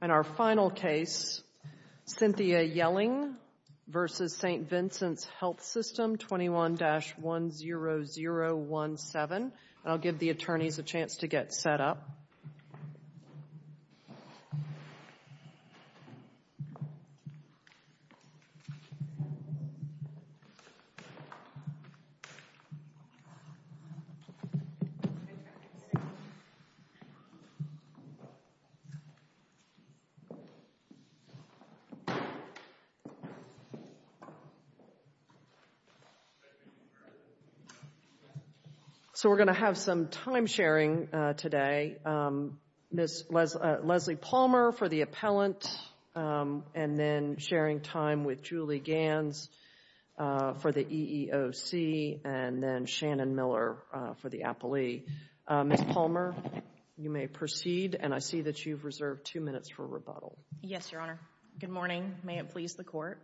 In our final case, Cynthia Yelling v. St. Vincent's Health System 21-10017. I'll give the attorneys a chance to get set up. So we're going to have some time sharing today. Ms. Leslie Palmer for the appellant and then sharing time with Julie Ganz for the EEOC and then Shannon Miller for the appellee. Ms. Palmer, you may proceed and I see that you've reserved two minutes for rebuttal. Yes, Your Honor. Good morning. May it please the Court.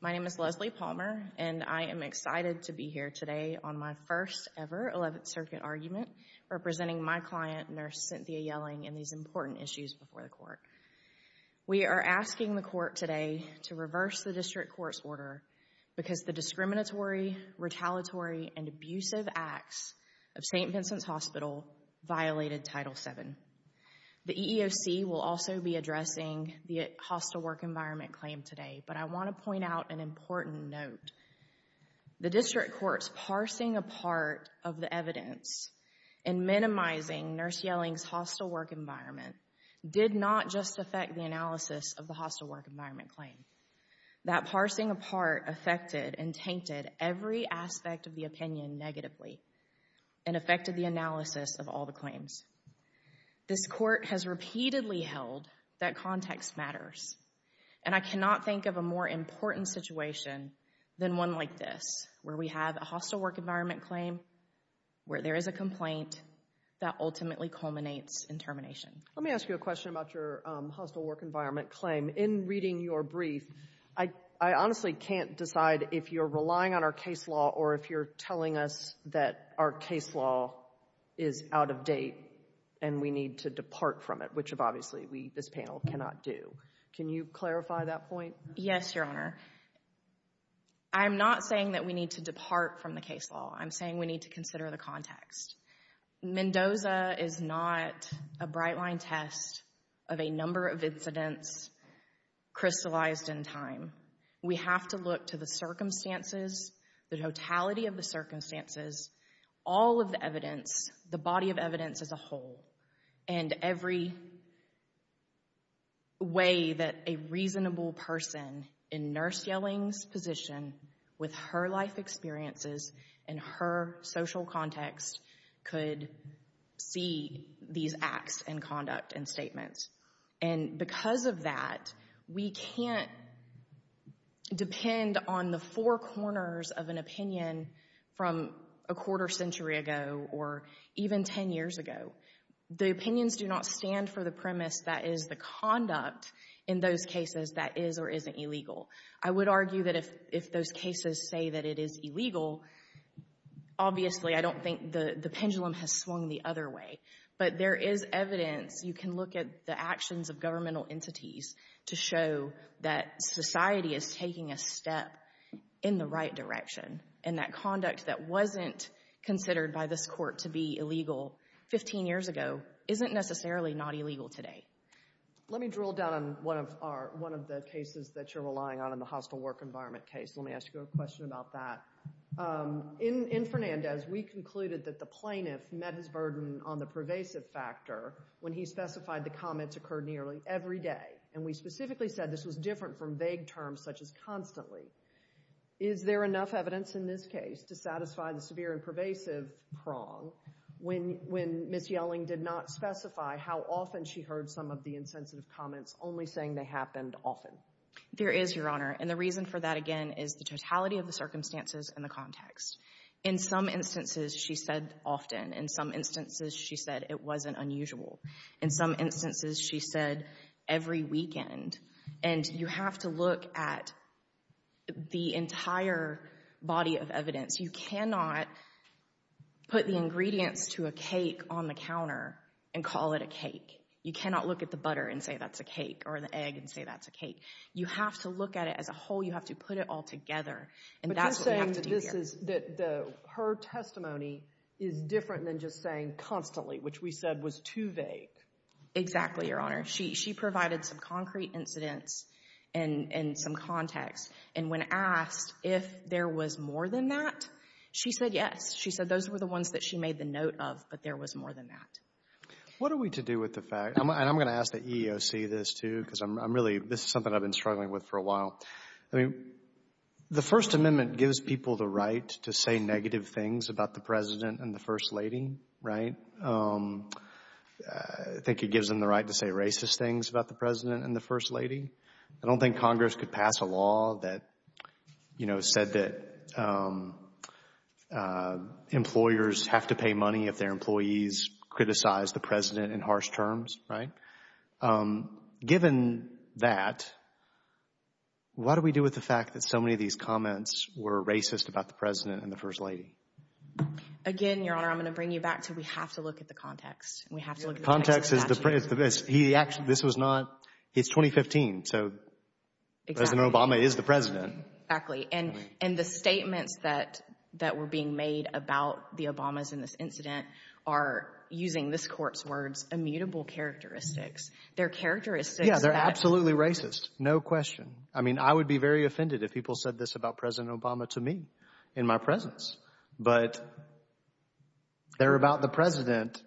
My name is Leslie Palmer and I am excited to be here today on my first ever 11th Circuit argument representing my client, Nurse Cynthia Yelling, and these important issues before the Court. We are asking the Court today to reverse the district court's order because the discriminatory, retaliatory, and abusive acts of St. Vincent's Hospital violated Title VII. The EEOC will also be addressing the hostile work environment claim today, but I want to point out an important note. The district court's parsing apart of the evidence and minimizing Nurse Yelling's hostile work environment did not just affect the analysis of the hostile work environment claim. That parsing apart affected and tainted every aspect of the opinion negatively and affected the analysis of all the claims. This Court has repeatedly held that context matters and I cannot think of a more important situation than one like this where we have a hostile work environment claim where there is a complaint that ultimately culminates in termination. Let me ask you a question about your hostile work environment claim. In reading your brief, I honestly can't decide if you're relying on our case law or if you're telling us that our case law is out of date and we need to depart from it, which obviously we, this panel, cannot do. Can you clarify that point? Yes, Your Honor. I'm not saying that we need to depart from the case law. I'm saying we need to consider the context. Mendoza is not a bright line test of a number of incidents crystallized in time. We have to look to the circumstances, the totality of the circumstances, all of the evidence, the body of evidence as a whole and every way that a reasonable person in the world could see these acts and conduct and statements. And because of that, we can't depend on the four corners of an opinion from a quarter century ago or even ten years ago. The opinions do not stand for the premise that is the conduct in those cases that is or isn't illegal. I would argue that if those cases say that it is illegal, obviously I don't think the pendulum has swung the other way. But there is evidence. You can look at the actions of governmental entities to show that society is taking a step in the right direction and that conduct that wasn't considered by this court to be illegal 15 years ago isn't necessarily not illegal today. Let me drill down on one of the cases that you're relying on in the hostile work environment case. Let me ask you a question about that. In Fernandez, we concluded that the plaintiff met his burden on the pervasive factor when he specified the comments occurred nearly every day. And we specifically said this was different from vague terms such as constantly. Is there enough evidence in this case to satisfy the severe and pervasive prong when Ms. She heard some of the insensitive comments only saying they happened often? There is, Your Honor. And the reason for that, again, is the totality of the circumstances and the context. In some instances, she said often. In some instances, she said it wasn't unusual. In some instances, she said every weekend. And you have to look at the entire body of evidence. You cannot put the ingredients to a cake on the counter and call it a cake. You cannot look at the butter and say that's a cake or the egg and say that's a cake. You have to look at it as a whole. You have to put it all together. And that's what we have to do here. But you're saying that her testimony is different than just saying constantly, which we said was too vague. Exactly, Your Honor. She provided some concrete incidents and some context. And when asked if there was more than that, she said yes. She said those were the ones that she made the note of, but there was more than that. What are we to do with the fact, and I'm going to ask the EEOC this, too, because I'm really, this is something I've been struggling with for a while. I mean, the First Amendment gives people the right to say negative things about the President and the First Lady, right? I think it gives them the right to say racist things about the President and the First Lady. I don't think Congress could pass a law that, you know, said that employers have to pay money if their employees criticize the President in harsh terms, right? Given that, what do we do with the fact that so many of these comments were racist about the President and the First Lady? Again, Your Honor, I'm going to bring you back to we have to look at the context. We have to look at the context. The context is, this was not, it's 2015, so President Obama is the President. Exactly. And the statements that were being made about the Obamas in this incident are, using this court's words, immutable characteristics. They're characteristics that— Yeah, they're absolutely racist, no question. I mean, I would be very offended if people said this about President Obama to me in my presence. But they're about the President.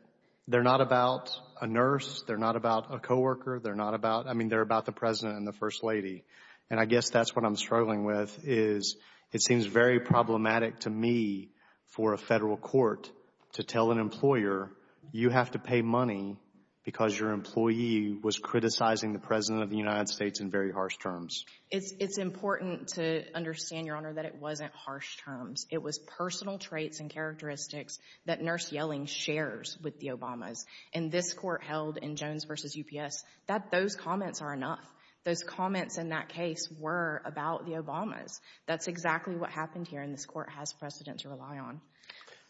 They're not about a nurse. They're not about a coworker. They're not about, I mean, they're about the President and the First Lady. And I guess that's what I'm struggling with is it seems very problematic to me for a federal court to tell an employer, you have to pay money because your employee was criticizing the President of the United States in very harsh terms. It's important to understand, Your Honor, that it wasn't harsh terms. It was personal traits and characteristics that nurse yelling shares with the Obamas. And this court held in Jones v. UPS that those comments are enough. Those comments in that case were about the Obamas. That's exactly what happened here, and this court has precedent to rely on.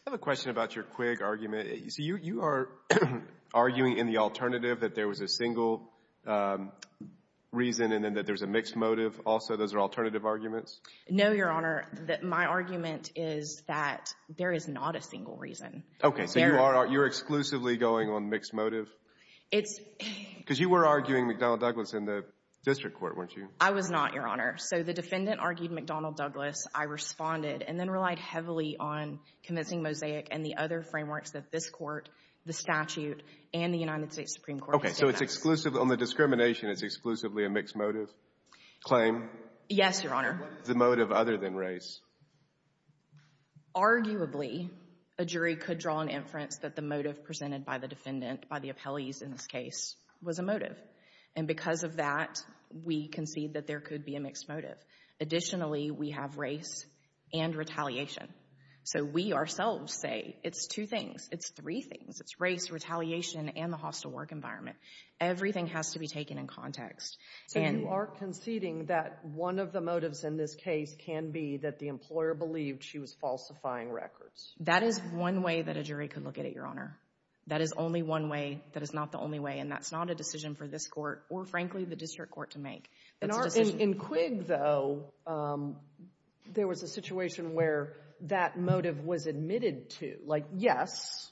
I have a question about your Quig argument. You see, you are arguing in the alternative that there was a single reason and then that there's a mixed motive also. Those are alternative arguments? No, Your Honor. My argument is that there is not a single reason. Okay, so you're exclusively going on mixed motive? It's— Because you were arguing McDonnell-Douglas in the district court, weren't you? I was not, Your Honor. So the defendant argued McDonnell-Douglas. I responded and then relied heavily on convincing Mosaic and the other frameworks that this court, the statute, and the United States Supreme Court— Okay, so it's exclusively—on the discrimination, it's exclusively a mixed motive claim? Yes, Your Honor. What is the motive other than race? Arguably, a jury could draw an inference that the motive presented by the defendant, by the appellees in this case, was a motive. And because of that, we concede that there could be a mixed motive. Additionally, we have race and retaliation. So we ourselves say it's two things. It's three things. It's race, retaliation, and the hostile work environment. Everything has to be taken in context. So you are conceding that one of the motives in this case can be that the employer believed she was falsifying records? That is one way that a jury could look at it, Your Honor. That is only one way. That is not the only way. And that's not a decision for this court or, frankly, the district court to make. In Quigg, though, there was a situation where that motive was admitted to. Like, yes,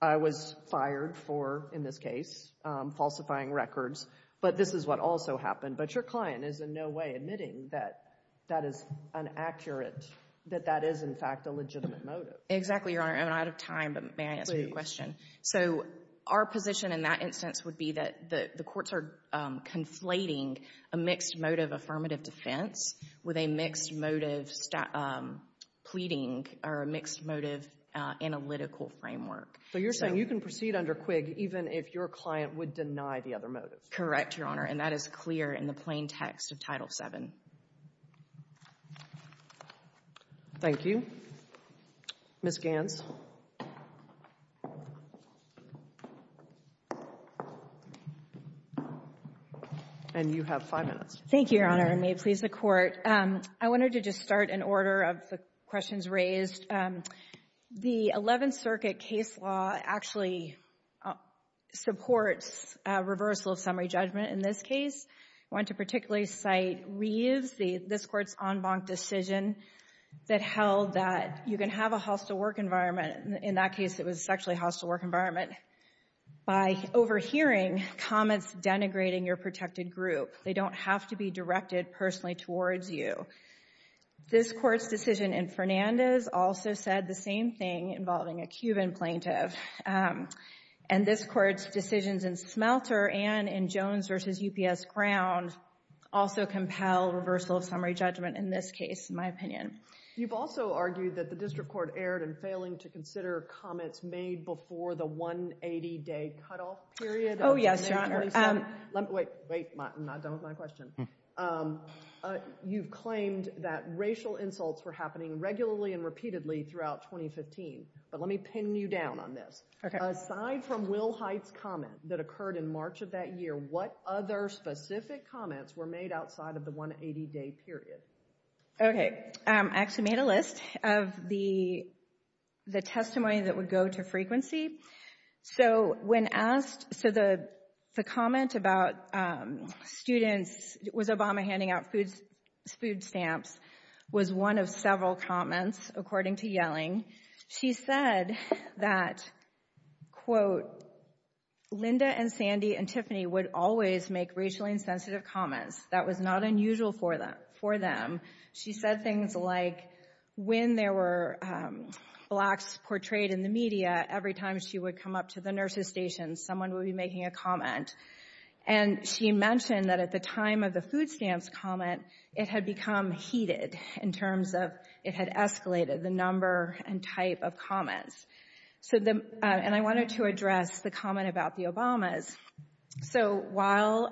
I was fired for, in this case, falsifying records, but this is what also happened. But your client is in no way admitting that that is inaccurate, that that is, in fact, a legitimate motive. Exactly, Your Honor. I'm out of time, but may I ask you a question? So our position in that instance would be that the courts are conflating a mixed motive affirmative defense with a mixed motive pleading or a mixed motive analytical framework. So you're saying you can proceed under Quigg even if your client would deny the other motives? Correct, Your Honor, and that is clear in the plain text of Title VII. Thank you. Ms. Ganz. Thank you, Your Honor. And may it please the Court, I wanted to just start in order of the questions raised. The Eleventh Circuit case law actually supports reversal of summary judgment in this case. I want to particularly cite Reeves, this Court's en banc decision that held that you can have a hostile work environment. In that case, it was a sexually hostile work environment by overhearing comments denigrating your protected group. They don't have to be directed personally towards you. This Court's decision in Fernandez also said the same thing involving a Cuban plaintiff. And this Court's decisions in Smelter and in Jones v. UPS Ground also compel reversal of summary judgment in this case, in my opinion. You've also argued that the District Court erred in failing to consider comments made before the 180-day cutoff period. Oh, yes, Your Honor. Wait, I'm not done with my question. You've claimed that racial insults were happening regularly and repeatedly throughout 2015. But let me pin you down on this. Aside from Will Hite's comment that occurred in March of that year, what other specific comments were made outside of the 180-day period? Okay, I actually made a list of the testimony that would go to frequency. So when asked, so the comment about students, was Obama handing out food stamps, was one of several comments, according to Yelling. She said that, quote, Linda and Sandy and Tiffany would always make racially insensitive comments. That was not unusual for them. She said things like when there were blacks portrayed in the media, every time she would come up to the nurses' station, someone would be making a comment. And she mentioned that at the time of the food stamps comment, it had become heated in terms of it had escalated, the number and type of comments. And I wanted to address the comment about the Obamas. So while,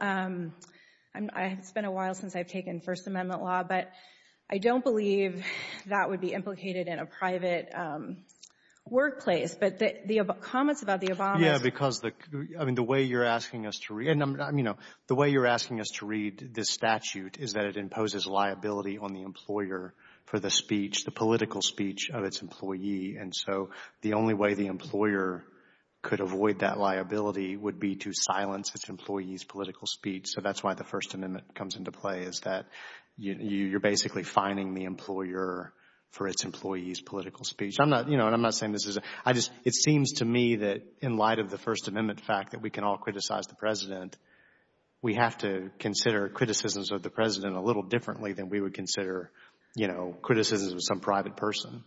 it's been a while since I've taken First Amendment law, but I don't believe that would be implicated in a private workplace. But the comments about the Obamas. Yeah, because the way you're asking us to read this statute is that it imposes liability on the employer for the speech, the political speech of its employee. And so the only way the employer could avoid that liability would be to silence its employee's political speech. So that's why the First Amendment comes into play, is that you're basically fining the employer for its employee's political speech. I'm not, you know, and I'm not saying this is a, I just, it seems to me that in light of the First Amendment fact that we can all criticize the President, we have to consider criticisms of the President a little differently than we would consider, you know, criticisms of some private person.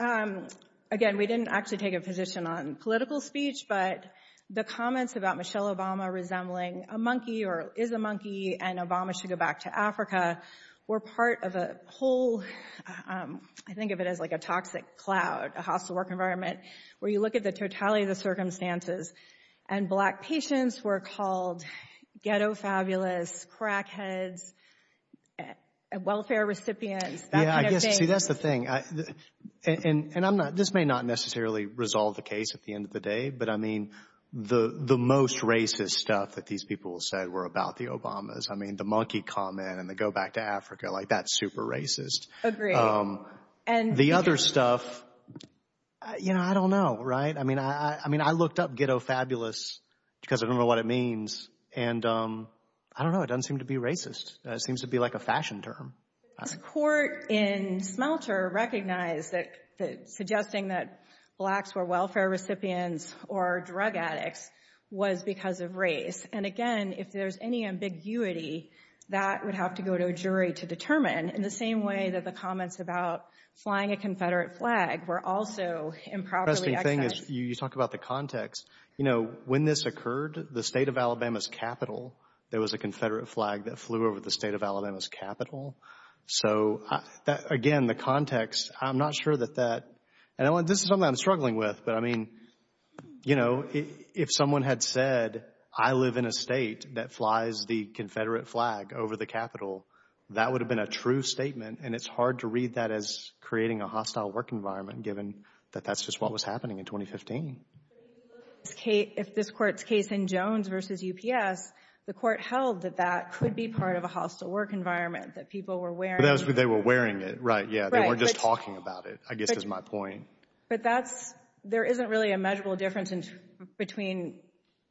Again, we didn't actually take a position on political speech, but the comments about Michelle Obama resembling a monkey or is a monkey and Obama should go back to Africa were part of a whole, I think of it as like a toxic cloud, a hostile work environment, where you look at the totality of the circumstances. And black patients were called ghetto fabulous, crackheads, welfare recipients, that kind of thing. See, that's the thing, and I'm not, this may not necessarily resolve the case at the end of the day, but I mean, the most racist stuff that these people said were about the Obamas. I mean, the monkey comment and the go back to Africa, like that's super racist. Agreed. The other stuff, you know, I don't know, right? I mean, I looked up ghetto fabulous because I don't know what it means. And I don't know, it doesn't seem to be racist. It seems to be like a fashion term. This court in Smelter recognized that suggesting that blacks were welfare recipients or drug addicts was because of race. And, again, if there's any ambiguity, that would have to go to a jury to determine, in the same way that the comments about flying a Confederate flag were also improperly expressed. The interesting thing is you talk about the context. You know, when this occurred, the state of Alabama's capital, there was a Confederate flag that flew over the state of Alabama's capital. So, again, the context, I'm not sure that that, and this is something I'm struggling with, but I mean, you know, if someone had said, I live in a state that flies the Confederate flag over the capital, that would have been a true statement, and it's hard to read that as creating a hostile work environment, given that that's just what was happening in 2015. If this court's case in Jones versus UPS, the court held that that could be part of a hostile work environment, that people were wearing it. They were wearing it, right, yeah. They weren't just talking about it, I guess is my point. But that's, there isn't really a measurable difference between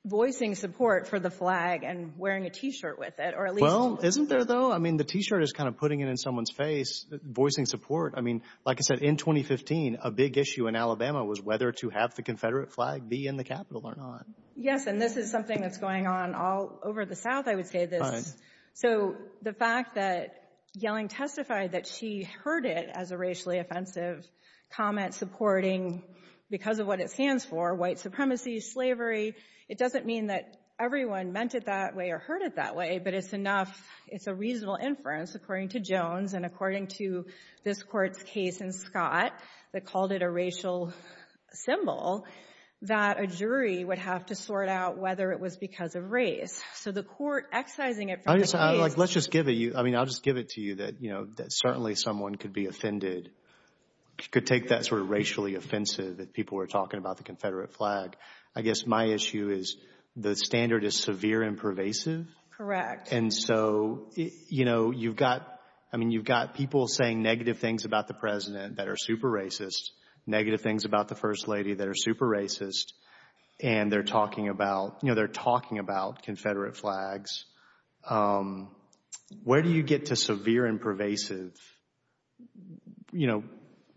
voicing support for the flag and wearing a T-shirt with it. Well, isn't there, though? I mean, the T-shirt is kind of putting it in someone's face, voicing support. I mean, like I said, in 2015, a big issue in Alabama was whether to have the Confederate flag be in the capital or not. Yes, and this is something that's going on all over the South, I would say. So, the fact that Yelling testified that she heard it as a racially offensive comment supporting, because of what it stands for, white supremacy, slavery, it doesn't mean that everyone meant it that way or heard it that way, but it's enough. And according to this court's case in Scott that called it a racial symbol, that a jury would have to sort out whether it was because of race. So, the court excising it from the case. Let's just give it to you. I mean, I'll just give it to you that certainly someone could be offended, could take that sort of racially offensive that people were talking about the Confederate flag. I guess my issue is the standard is severe and pervasive. Correct. And so, you know, you've got people saying negative things about the President that are super racist, negative things about the First Lady that are super racist, and they're talking about Confederate flags. Where do you get to severe and pervasive? You know,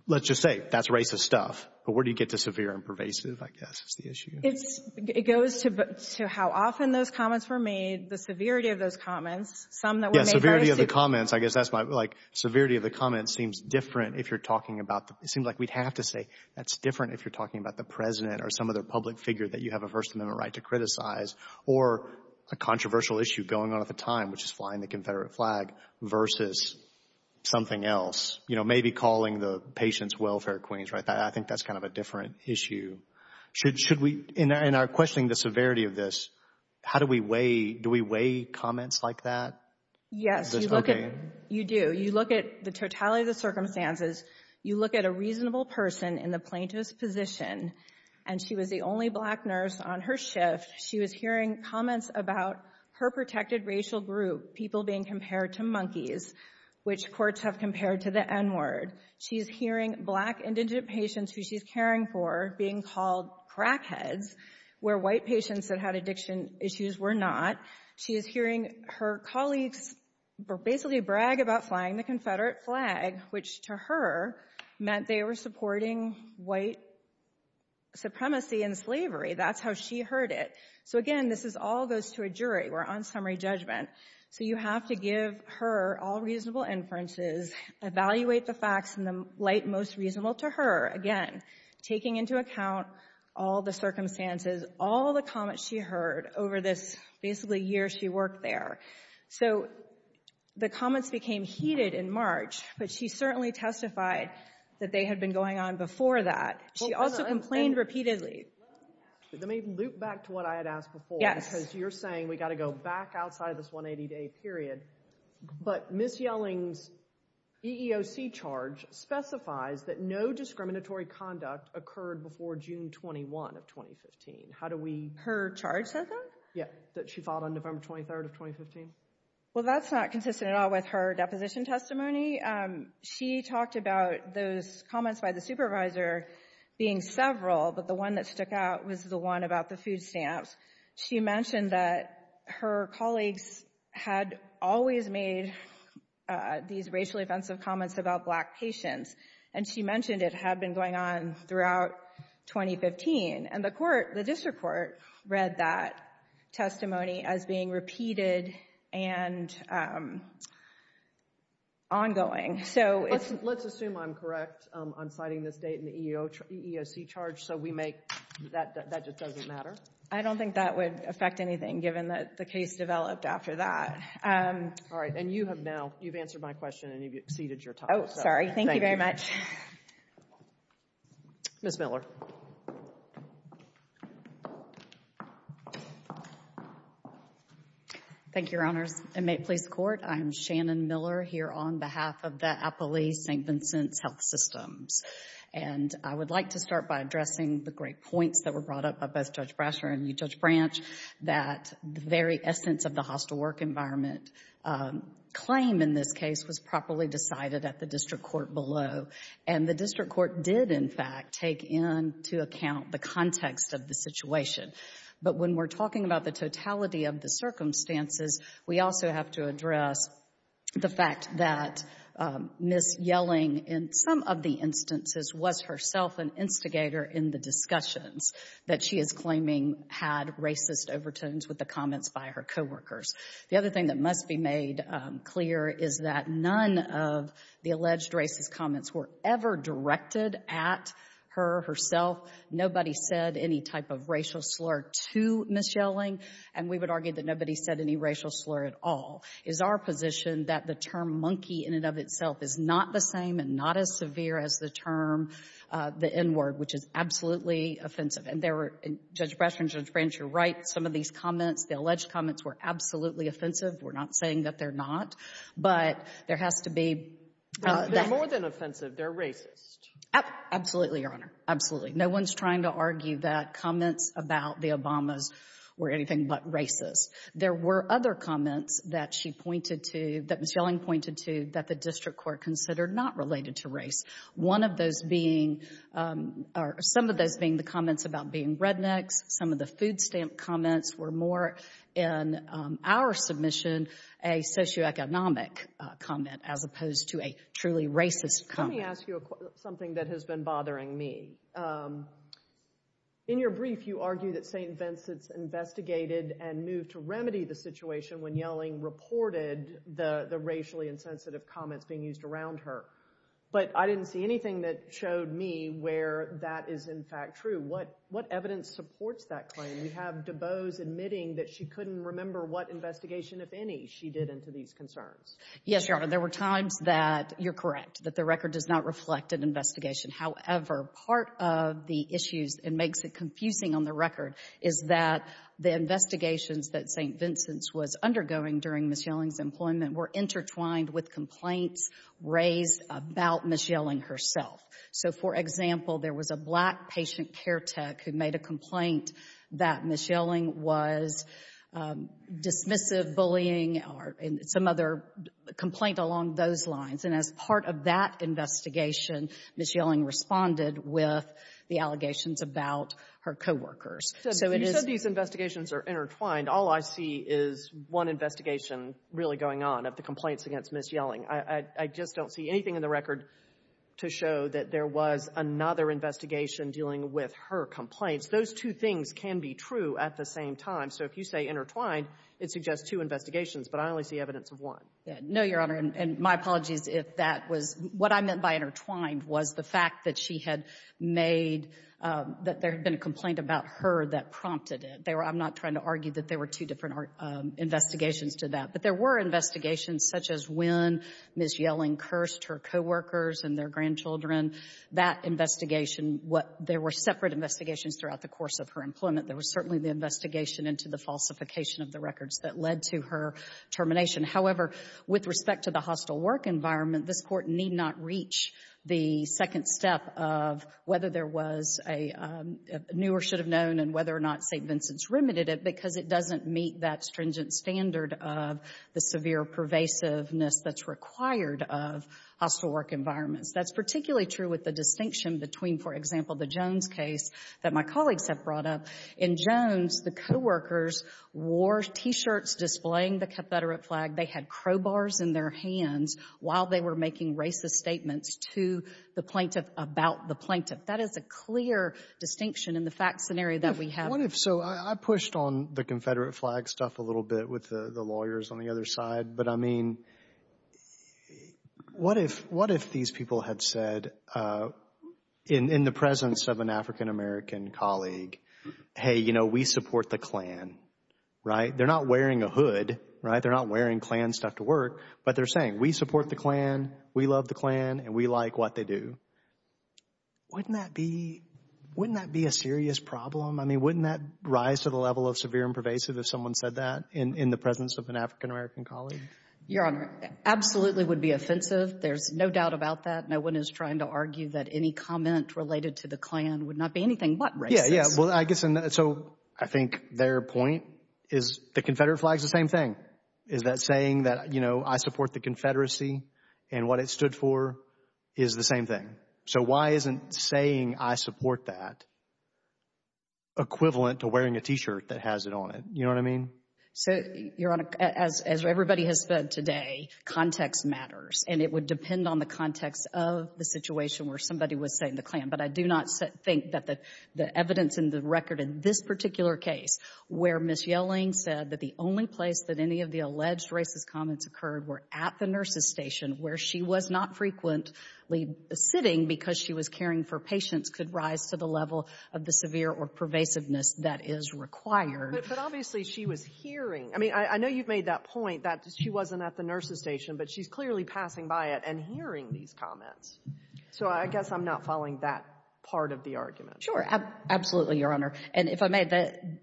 let's just say that's racist stuff, but where do you get to severe and pervasive, I guess, is the issue. It goes to how often those comments were made, the severity of those comments. Yes, severity of the comments, I guess that's my, like, severity of the comments seems different if you're talking about, it seems like we'd have to say that's different if you're talking about the President or some other public figure that you have a First Amendment right to criticize or a controversial issue going on at the time, which is flying the Confederate flag, versus something else, you know, maybe calling the patients welfare queens. I think that's kind of a different issue. Should we, in our questioning the severity of this, how do we weigh, do we weigh comments like that? Yes, you do. You look at the totality of the circumstances. You look at a reasonable person in the plaintiff's position, and she was the only black nurse on her shift. She was hearing comments about her protected racial group, people being compared to monkeys, which courts have compared to the N-word. She's hearing black indigent patients who she's caring for being called crackheads, where white patients that had addiction issues were not. She is hearing her colleagues basically brag about flying the Confederate flag, which to her meant they were supporting white supremacy and slavery. That's how she heard it. So, again, this all goes to a jury. We're on summary judgment. So you have to give her all reasonable inferences, evaluate the facts in the light most reasonable to her. Again, taking into account all the circumstances, all the comments she heard over this basically year she worked there. So the comments became heated in March, but she certainly testified that they had been going on before that. She also complained repeatedly. Let me loop back to what I had asked before. Yes. As you're saying, we've got to go back outside this 180-day period, but Ms. Yelling's EEOC charge specifies that no discriminatory conduct occurred before June 21 of 2015. How do we— Her charge says that? Yeah, that she filed on November 23rd of 2015. Well, that's not consistent at all with her deposition testimony. She talked about those comments by the supervisor being several, but the one that stuck out was the one about the food stamps. She mentioned that her colleagues had always made these racially offensive comments about black patients, and she mentioned it had been going on throughout 2015. And the court, the district court, read that testimony as being repeated and ongoing. So it's— Let's assume I'm correct on citing this date in the EEOC charge so we make—that just doesn't matter? I don't think that would affect anything, given that the case developed after that. All right. And you have now—you've answered my question, and you've exceeded your time. Oh, sorry. Thank you very much. Ms. Miller. Thank you, Your Honors. And may it please the Court, I am Shannon Miller here on behalf of the Appali St. Vincent's Health Systems. And I would like to start by addressing the great points that were brought up by both Judge Brasher and you, Judge Branch, that the very essence of the hostile work environment claim in this case was properly decided at the district court below. And the district court did, in fact, take into account the context of the situation. But when we're talking about the totality of the circumstances, we also have to address the fact that Ms. Yelling, in some of the instances, was herself an instigator in the discussions that she is claiming had racist overtones with the comments by her coworkers. The other thing that must be made clear is that none of the alleged racist comments were ever directed at her herself. Nobody said any type of racial slur to Ms. Yelling. And we would argue that nobody said any racial slur at all. It is our position that the term monkey in and of itself is not the same and not as severe as the term the N-word, which is absolutely offensive. And Judge Brasher and Judge Branch, you're right. Some of these comments, the alleged comments, were absolutely offensive. We're not saying that they're not. But there has to be – They're more than offensive. They're racist. Absolutely, Your Honor. Absolutely. No one's trying to argue that comments about the Obamas were anything but racist. There were other comments that she pointed to, that Ms. Yelling pointed to, that the district court considered not related to race. One of those being – or some of those being the comments about being rednecks. Some of the food stamp comments were more, in our submission, a socioeconomic comment as opposed to a truly racist comment. Let me ask you something that has been bothering me. In your brief, you argue that St. Vincent's investigated and moved to remedy the situation when Yelling reported the racially insensitive comments being used around her. But I didn't see anything that showed me where that is, in fact, true. What evidence supports that claim? You have DuBose admitting that she couldn't remember what investigation, if any, she did into these concerns. Yes, Your Honor. There were times that you're correct, that the record does not reflect an investigation. However, part of the issues that makes it confusing on the record is that the investigations that St. Vincent's was undergoing during Ms. Yelling's employment were intertwined with complaints raised about Ms. Yelling herself. So, for example, there was a black patient care tech who made a complaint that Ms. Yelling was dismissive, bullying, or some other complaint along those lines. And as part of that investigation, Ms. Yelling responded with the allegations about her coworkers. You said these investigations are intertwined. All I see is one investigation really going on of the complaints against Ms. Yelling. I just don't see anything in the record to show that there was another investigation dealing with her complaints. Those two things can be true at the same time. So if you say intertwined, it suggests two investigations, but I only see evidence of one. No, Your Honor. And my apologies if that was — what I meant by intertwined was the fact that she had made — that there had been a complaint about her that prompted it. I'm not trying to argue that there were two different investigations to that. But there were investigations such as when Ms. Yelling cursed her coworkers and their grandchildren, that investigation. There were separate investigations throughout the course of her employment. There was certainly the investigation into the falsification of the records that led to her termination. However, with respect to the hostile work environment, this Court need not reach the second step of whether there was a — and whether or not St. Vincent's remitted it because it doesn't meet that stringent standard of the severe pervasiveness that's required of hostile work environments. That's particularly true with the distinction between, for example, the Jones case that my colleagues have brought up. In Jones, the coworkers wore T-shirts displaying the Catholic flag. They had crowbars in their hands while they were making racist statements to the plaintiff about the plaintiff. That is a clear distinction in the fact scenario that we have. What if — so I pushed on the Confederate flag stuff a little bit with the lawyers on the other side. But, I mean, what if these people had said in the presence of an African-American colleague, hey, you know, we support the Klan, right? They're not wearing a hood, right? They're not wearing Klan stuff to work. But they're saying, we support the Klan, we love the Klan, and we like what they do. Wouldn't that be — wouldn't that be a serious problem? I mean, wouldn't that rise to the level of severe and pervasive if someone said that in the presence of an African-American colleague? Your Honor, absolutely would be offensive. There's no doubt about that. No one is trying to argue that any comment related to the Klan would not be anything but racist. Yeah, yeah. Well, I guess — so I think their point is the Confederate flag is the same thing. Is that saying that, you know, I support the Confederacy and what it stood for is the same thing. So why isn't saying I support that equivalent to wearing a T-shirt that has it on it? You know what I mean? So, Your Honor, as everybody has said today, context matters. And it would depend on the context of the situation where somebody was saying the Klan. But I do not think that the evidence in the record in this particular case where Ms. Yelling said that the only place that any of the alleged racist comments occurred were at the nurses' station, where she was not frequently sitting because she was caring for patients, could rise to the level of the severe or pervasiveness that is required. But obviously she was hearing. I mean, I know you've made that point that she wasn't at the nurses' station, but she's clearly passing by it and hearing these comments. So I guess I'm not following that part of the argument. Sure. Absolutely, Your Honor. And if I may,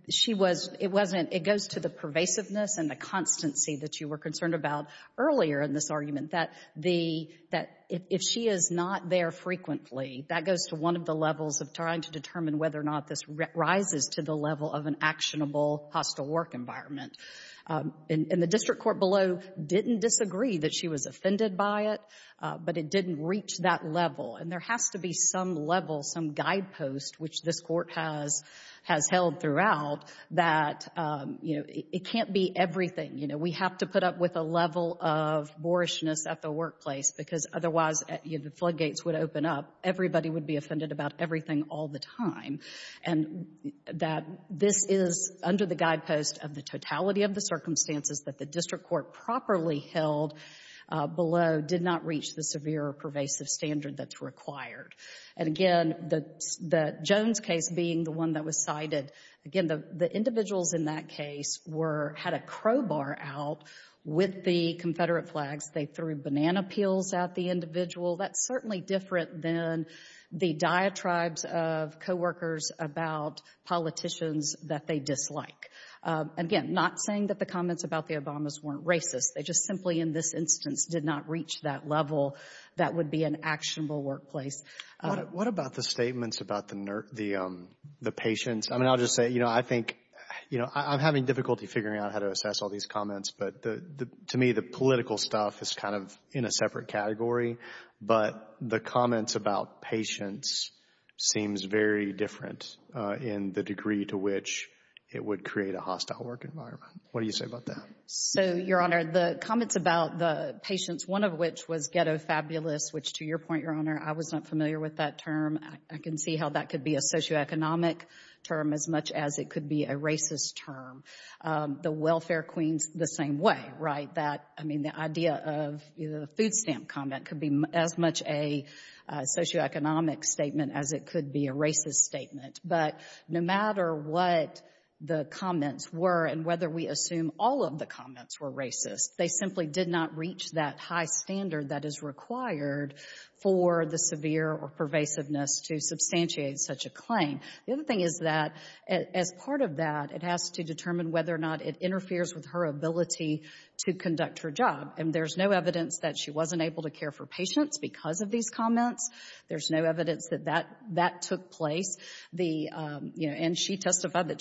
she was — it wasn't — it goes to the pervasiveness and the constancy that you were concerned about earlier in this argument, that the — that if she is not there frequently, that goes to one of the levels of trying to determine whether or not this rises to the level of an actionable hostile work environment. And the district court below didn't disagree that she was offended by it, but it didn't reach that level. And there has to be some level, some guidepost, which this Court has held throughout, that, you know, it can't be everything. You know, we have to put up with a level of boorishness at the workplace because otherwise the floodgates would open up. Everybody would be offended about everything all the time. And that this is under the guidepost of the totality of the circumstances that the district court properly held below did not reach the severe or pervasive standard that's required. And again, the Jones case being the one that was cited, again, the individuals in that case were — had a crowbar out with the Confederate flags. They threw banana peels at the individual. That's certainly different than the diatribes of coworkers about politicians that they dislike. Again, not saying that the comments about the Obamas weren't racist. They just simply, in this instance, did not reach that level that would be an actionable workplace. What about the statements about the patients? I mean, I'll just say, you know, I think — you know, I'm having difficulty figuring out how to assess all these comments. But to me, the political stuff is kind of in a separate category. But the comments about patients seems very different in the degree to which it would create a hostile work environment. What do you say about that? So, Your Honor, the comments about the patients, one of which was ghetto fabulous, which to your point, Your Honor, I was not familiar with that term. I can see how that could be a socioeconomic term as much as it could be a racist term. The welfare queens the same way, right? That, I mean, the idea of the food stamp comment could be as much a socioeconomic statement as it could be a racist statement. But no matter what the comments were and whether we assume all of the comments were racist, they simply did not reach that high standard that is required for the severe or pervasiveness to substantiate such a claim. The other thing is that as part of that, it has to determine whether or not it interferes with her ability to conduct her job. And there's no evidence that she wasn't able to care for patients because of these comments. There's no evidence that that took place. And she testified that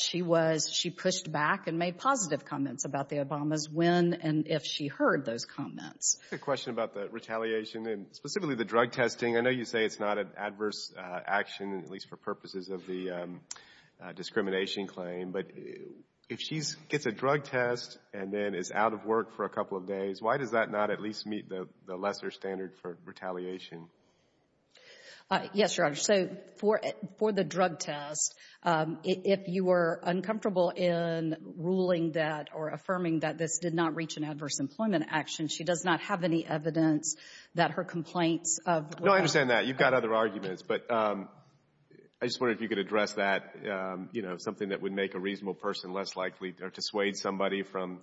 she pushed back and made positive comments about the Obamas when and if she heard those comments. I have a question about the retaliation and specifically the drug testing. I know you say it's not an adverse action, at least for purposes of the discrimination claim. But if she gets a drug test and then is out of work for a couple of days, why does that not at least meet the lesser standard for retaliation? Yes, Your Honor. So for the drug test, if you were uncomfortable in ruling that or affirming that this did not reach an adverse employment action, she does not have any evidence that her complaints of — No, I understand that. You've got other arguments. But I just wondered if you could address that, you know, something that would make a reasonable person less likely or dissuade somebody from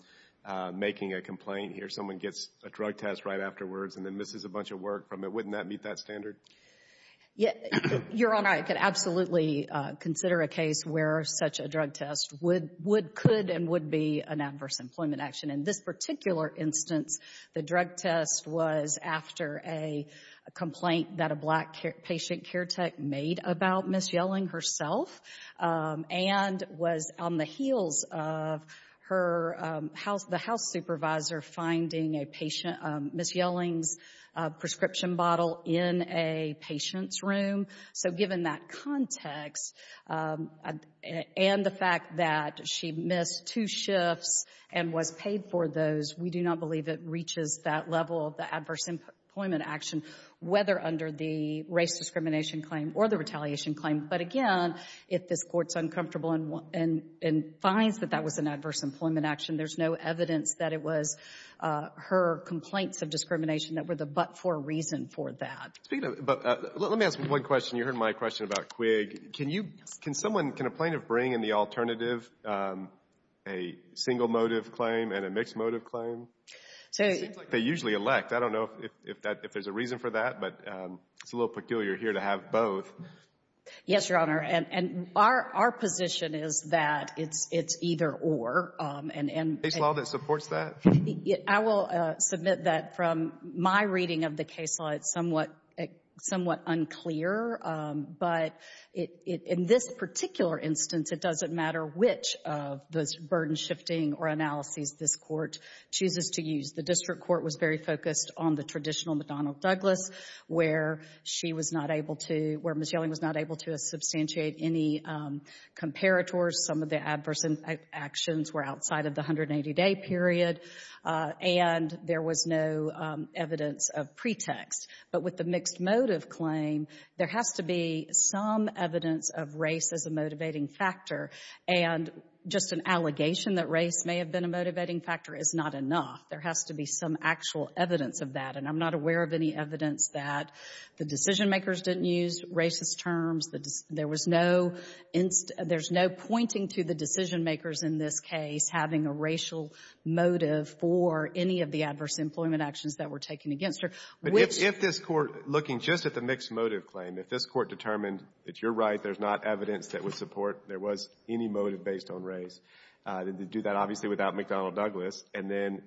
making a complaint. Here, someone gets a drug test right afterwards and then misses a bunch of work from it. Wouldn't that meet that standard? Your Honor, I could absolutely consider a case where such a drug test could and would be an adverse employment action. In this particular instance, the drug test was after a complaint that a black patient care tech made about Ms. Yelling herself and was on the heels of the house supervisor finding Ms. Yelling's prescription bottle in a patient's room. So given that context and the fact that she missed two shifts and was paid for those, we do not believe it reaches that level of the adverse employment action, whether under the race discrimination claim or the retaliation claim. But again, if this Court's uncomfortable and finds that that was an adverse employment action, there's no evidence that it was her complaints of discrimination that were the but-for reason for that. Let me ask one question. You heard my question about Quigg. Can someone, can a plaintiff bring in the alternative, a single motive claim and a mixed motive claim? It seems like they usually elect. I don't know if there's a reason for that, but it's a little peculiar here to have both. Yes, Your Honor, and our position is that it's either or. A case law that supports that? I will submit that from my reading of the case law, it's somewhat unclear. But in this particular instance, it doesn't matter which of those burden shifting or analyses this Court chooses to use. The district court was very focused on the traditional McDonnell-Douglas, where she was not able to, where Ms. Yelling was not able to substantiate any comparators. Some of the adverse actions were outside of the 180-day period, and there was no evidence of pretext. But with the mixed motive claim, there has to be some evidence of race as a motivating factor, and just an allegation that race may have been a motivating factor is not enough. There has to be some actual evidence of that, and I'm not aware of any evidence that the decision-makers didn't use racist terms. There was no — there's no pointing to the decision-makers in this case having a racial motive for any of the adverse employment actions that were taken against her, which — But if this Court, looking just at the mixed motive claim, if this Court determined that you're right, there's not evidence that would support there was any motive based on race, to do that obviously without McDonnell-Douglas, and then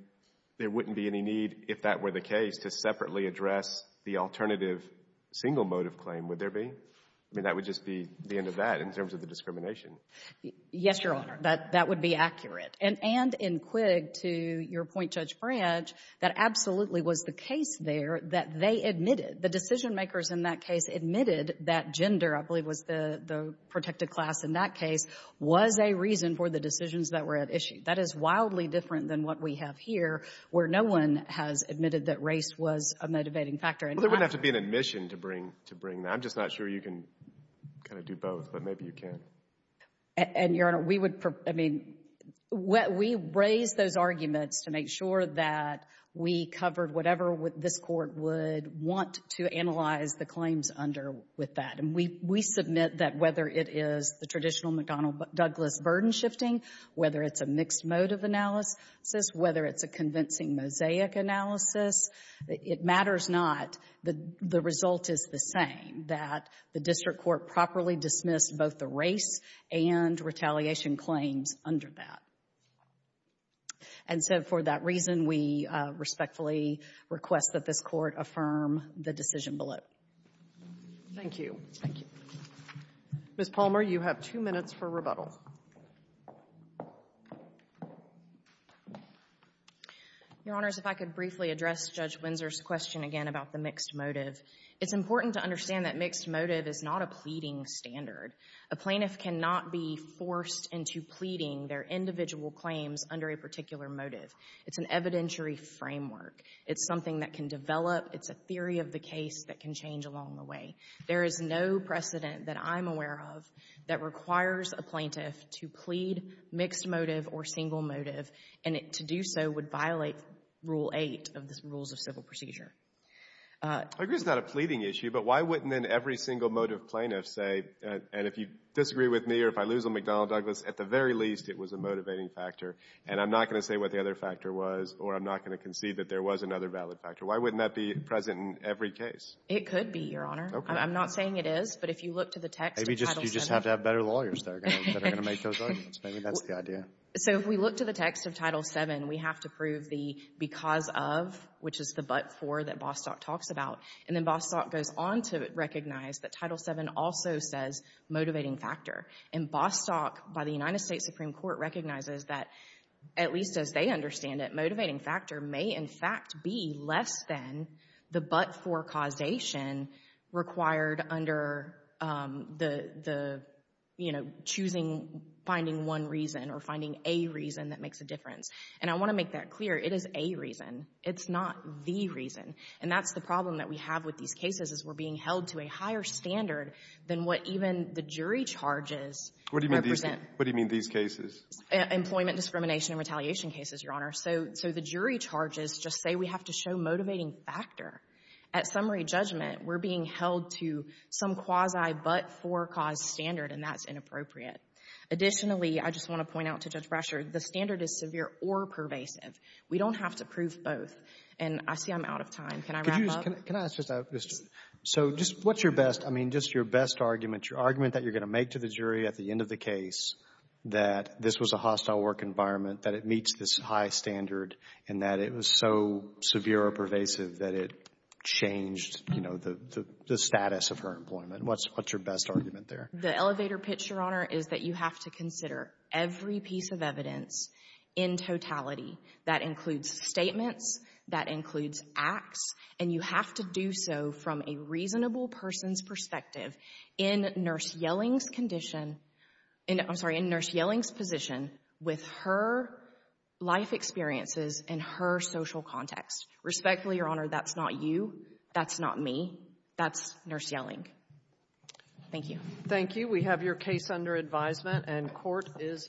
there wouldn't be any need, if that were the case, to separately address the alternative single motive claim, would there be? I mean, that would just be the end of that in terms of the discrimination. Yes, Your Honor. That would be accurate. And in Quigg, to your point, Judge Branch, that absolutely was the case there that they admitted. The decision-makers in that case admitted that gender, I believe, was the protected class in that case, was a reason for the decisions that were at issue. That is wildly different than what we have here, where no one has admitted that race was a motivating factor. Well, there wouldn't have to be an admission to bring that. I'm just not sure you can kind of do both, but maybe you can. And, Your Honor, we would — I mean, we raised those arguments to make sure that we covered whatever this Court would want to analyze the claims under with that. And we submit that whether it is the traditional McDonnell-Douglas burden-shifting, whether it's a mixed motive analysis, whether it's a convincing mosaic analysis, it matters not. The result is the same, that the district court properly dismissed both the race and retaliation claims under that. And so for that reason, we respectfully request that this Court affirm the decision below. Thank you. Ms. Palmer, you have two minutes for rebuttal. Your Honors, if I could briefly address Judge Windsor's question again about the mixed motive. It's important to understand that mixed motive is not a pleading standard. A plaintiff cannot be forced into pleading their individual claims under a particular motive. It's an evidentiary framework. It's something that can develop. It's a theory of the case that can change along the way. There is no precedent that I'm aware of that requires a plaintiff to plead mixed motive or single motive. And to do so would violate Rule 8 of the Rules of Civil Procedure. I agree it's not a pleading issue, but why wouldn't then every single motive plaintiff say, and if you disagree with me or if I lose on McDonnell-Douglas, at the very least it was a motivating factor, and I'm not going to say what the other factor was or I'm not going to concede that there was another valid factor. Why wouldn't that be present in every case? It could be, Your Honor. Okay. I'm not saying it is, but if you look to the text of Title VII. Maybe you just have to have better lawyers that are going to make those arguments. Maybe that's the idea. So if we look to the text of Title VII, we have to prove the because of, which is the but for that Bostock talks about. And then Bostock goes on to recognize that Title VII also says motivating factor. And Bostock, by the United States Supreme Court, recognizes that, at least as they understand it, motivating factor may, in fact, be less than the but for causation required under the, you know, choosing, finding one reason or finding a reason that makes a difference. And I want to make that clear. It is a reason. It's not the reason. And that's the problem that we have with these cases is we're being held to a higher standard than what even the jury charges represent. What do you mean these cases? Employment discrimination and retaliation cases, Your Honor. So the jury charges just say we have to show motivating factor. At summary judgment, we're being held to some quasi but for cause standard, and that's inappropriate. Additionally, I just want to point out to Judge Brasher, the standard is severe or pervasive. We don't have to prove both. And I see I'm out of time. Can I wrap up? Can I ask just a question? So just what's your best, I mean, just your best argument, your argument that you're this was a hostile work environment, that it meets this high standard, and that it was so severe or pervasive that it changed, you know, the status of her employment? What's your best argument there? The elevator pitch, Your Honor, is that you have to consider every piece of evidence in totality. That includes statements. That includes acts. And you have to do so from a reasonable person's perspective. In Nurse Yelling's condition, I'm sorry, in Nurse Yelling's position, with her life experiences and her social context. Respectfully, Your Honor, that's not you. That's not me. That's Nurse Yelling. Thank you. Thank you. We have your case under advisement, and court is adjourned.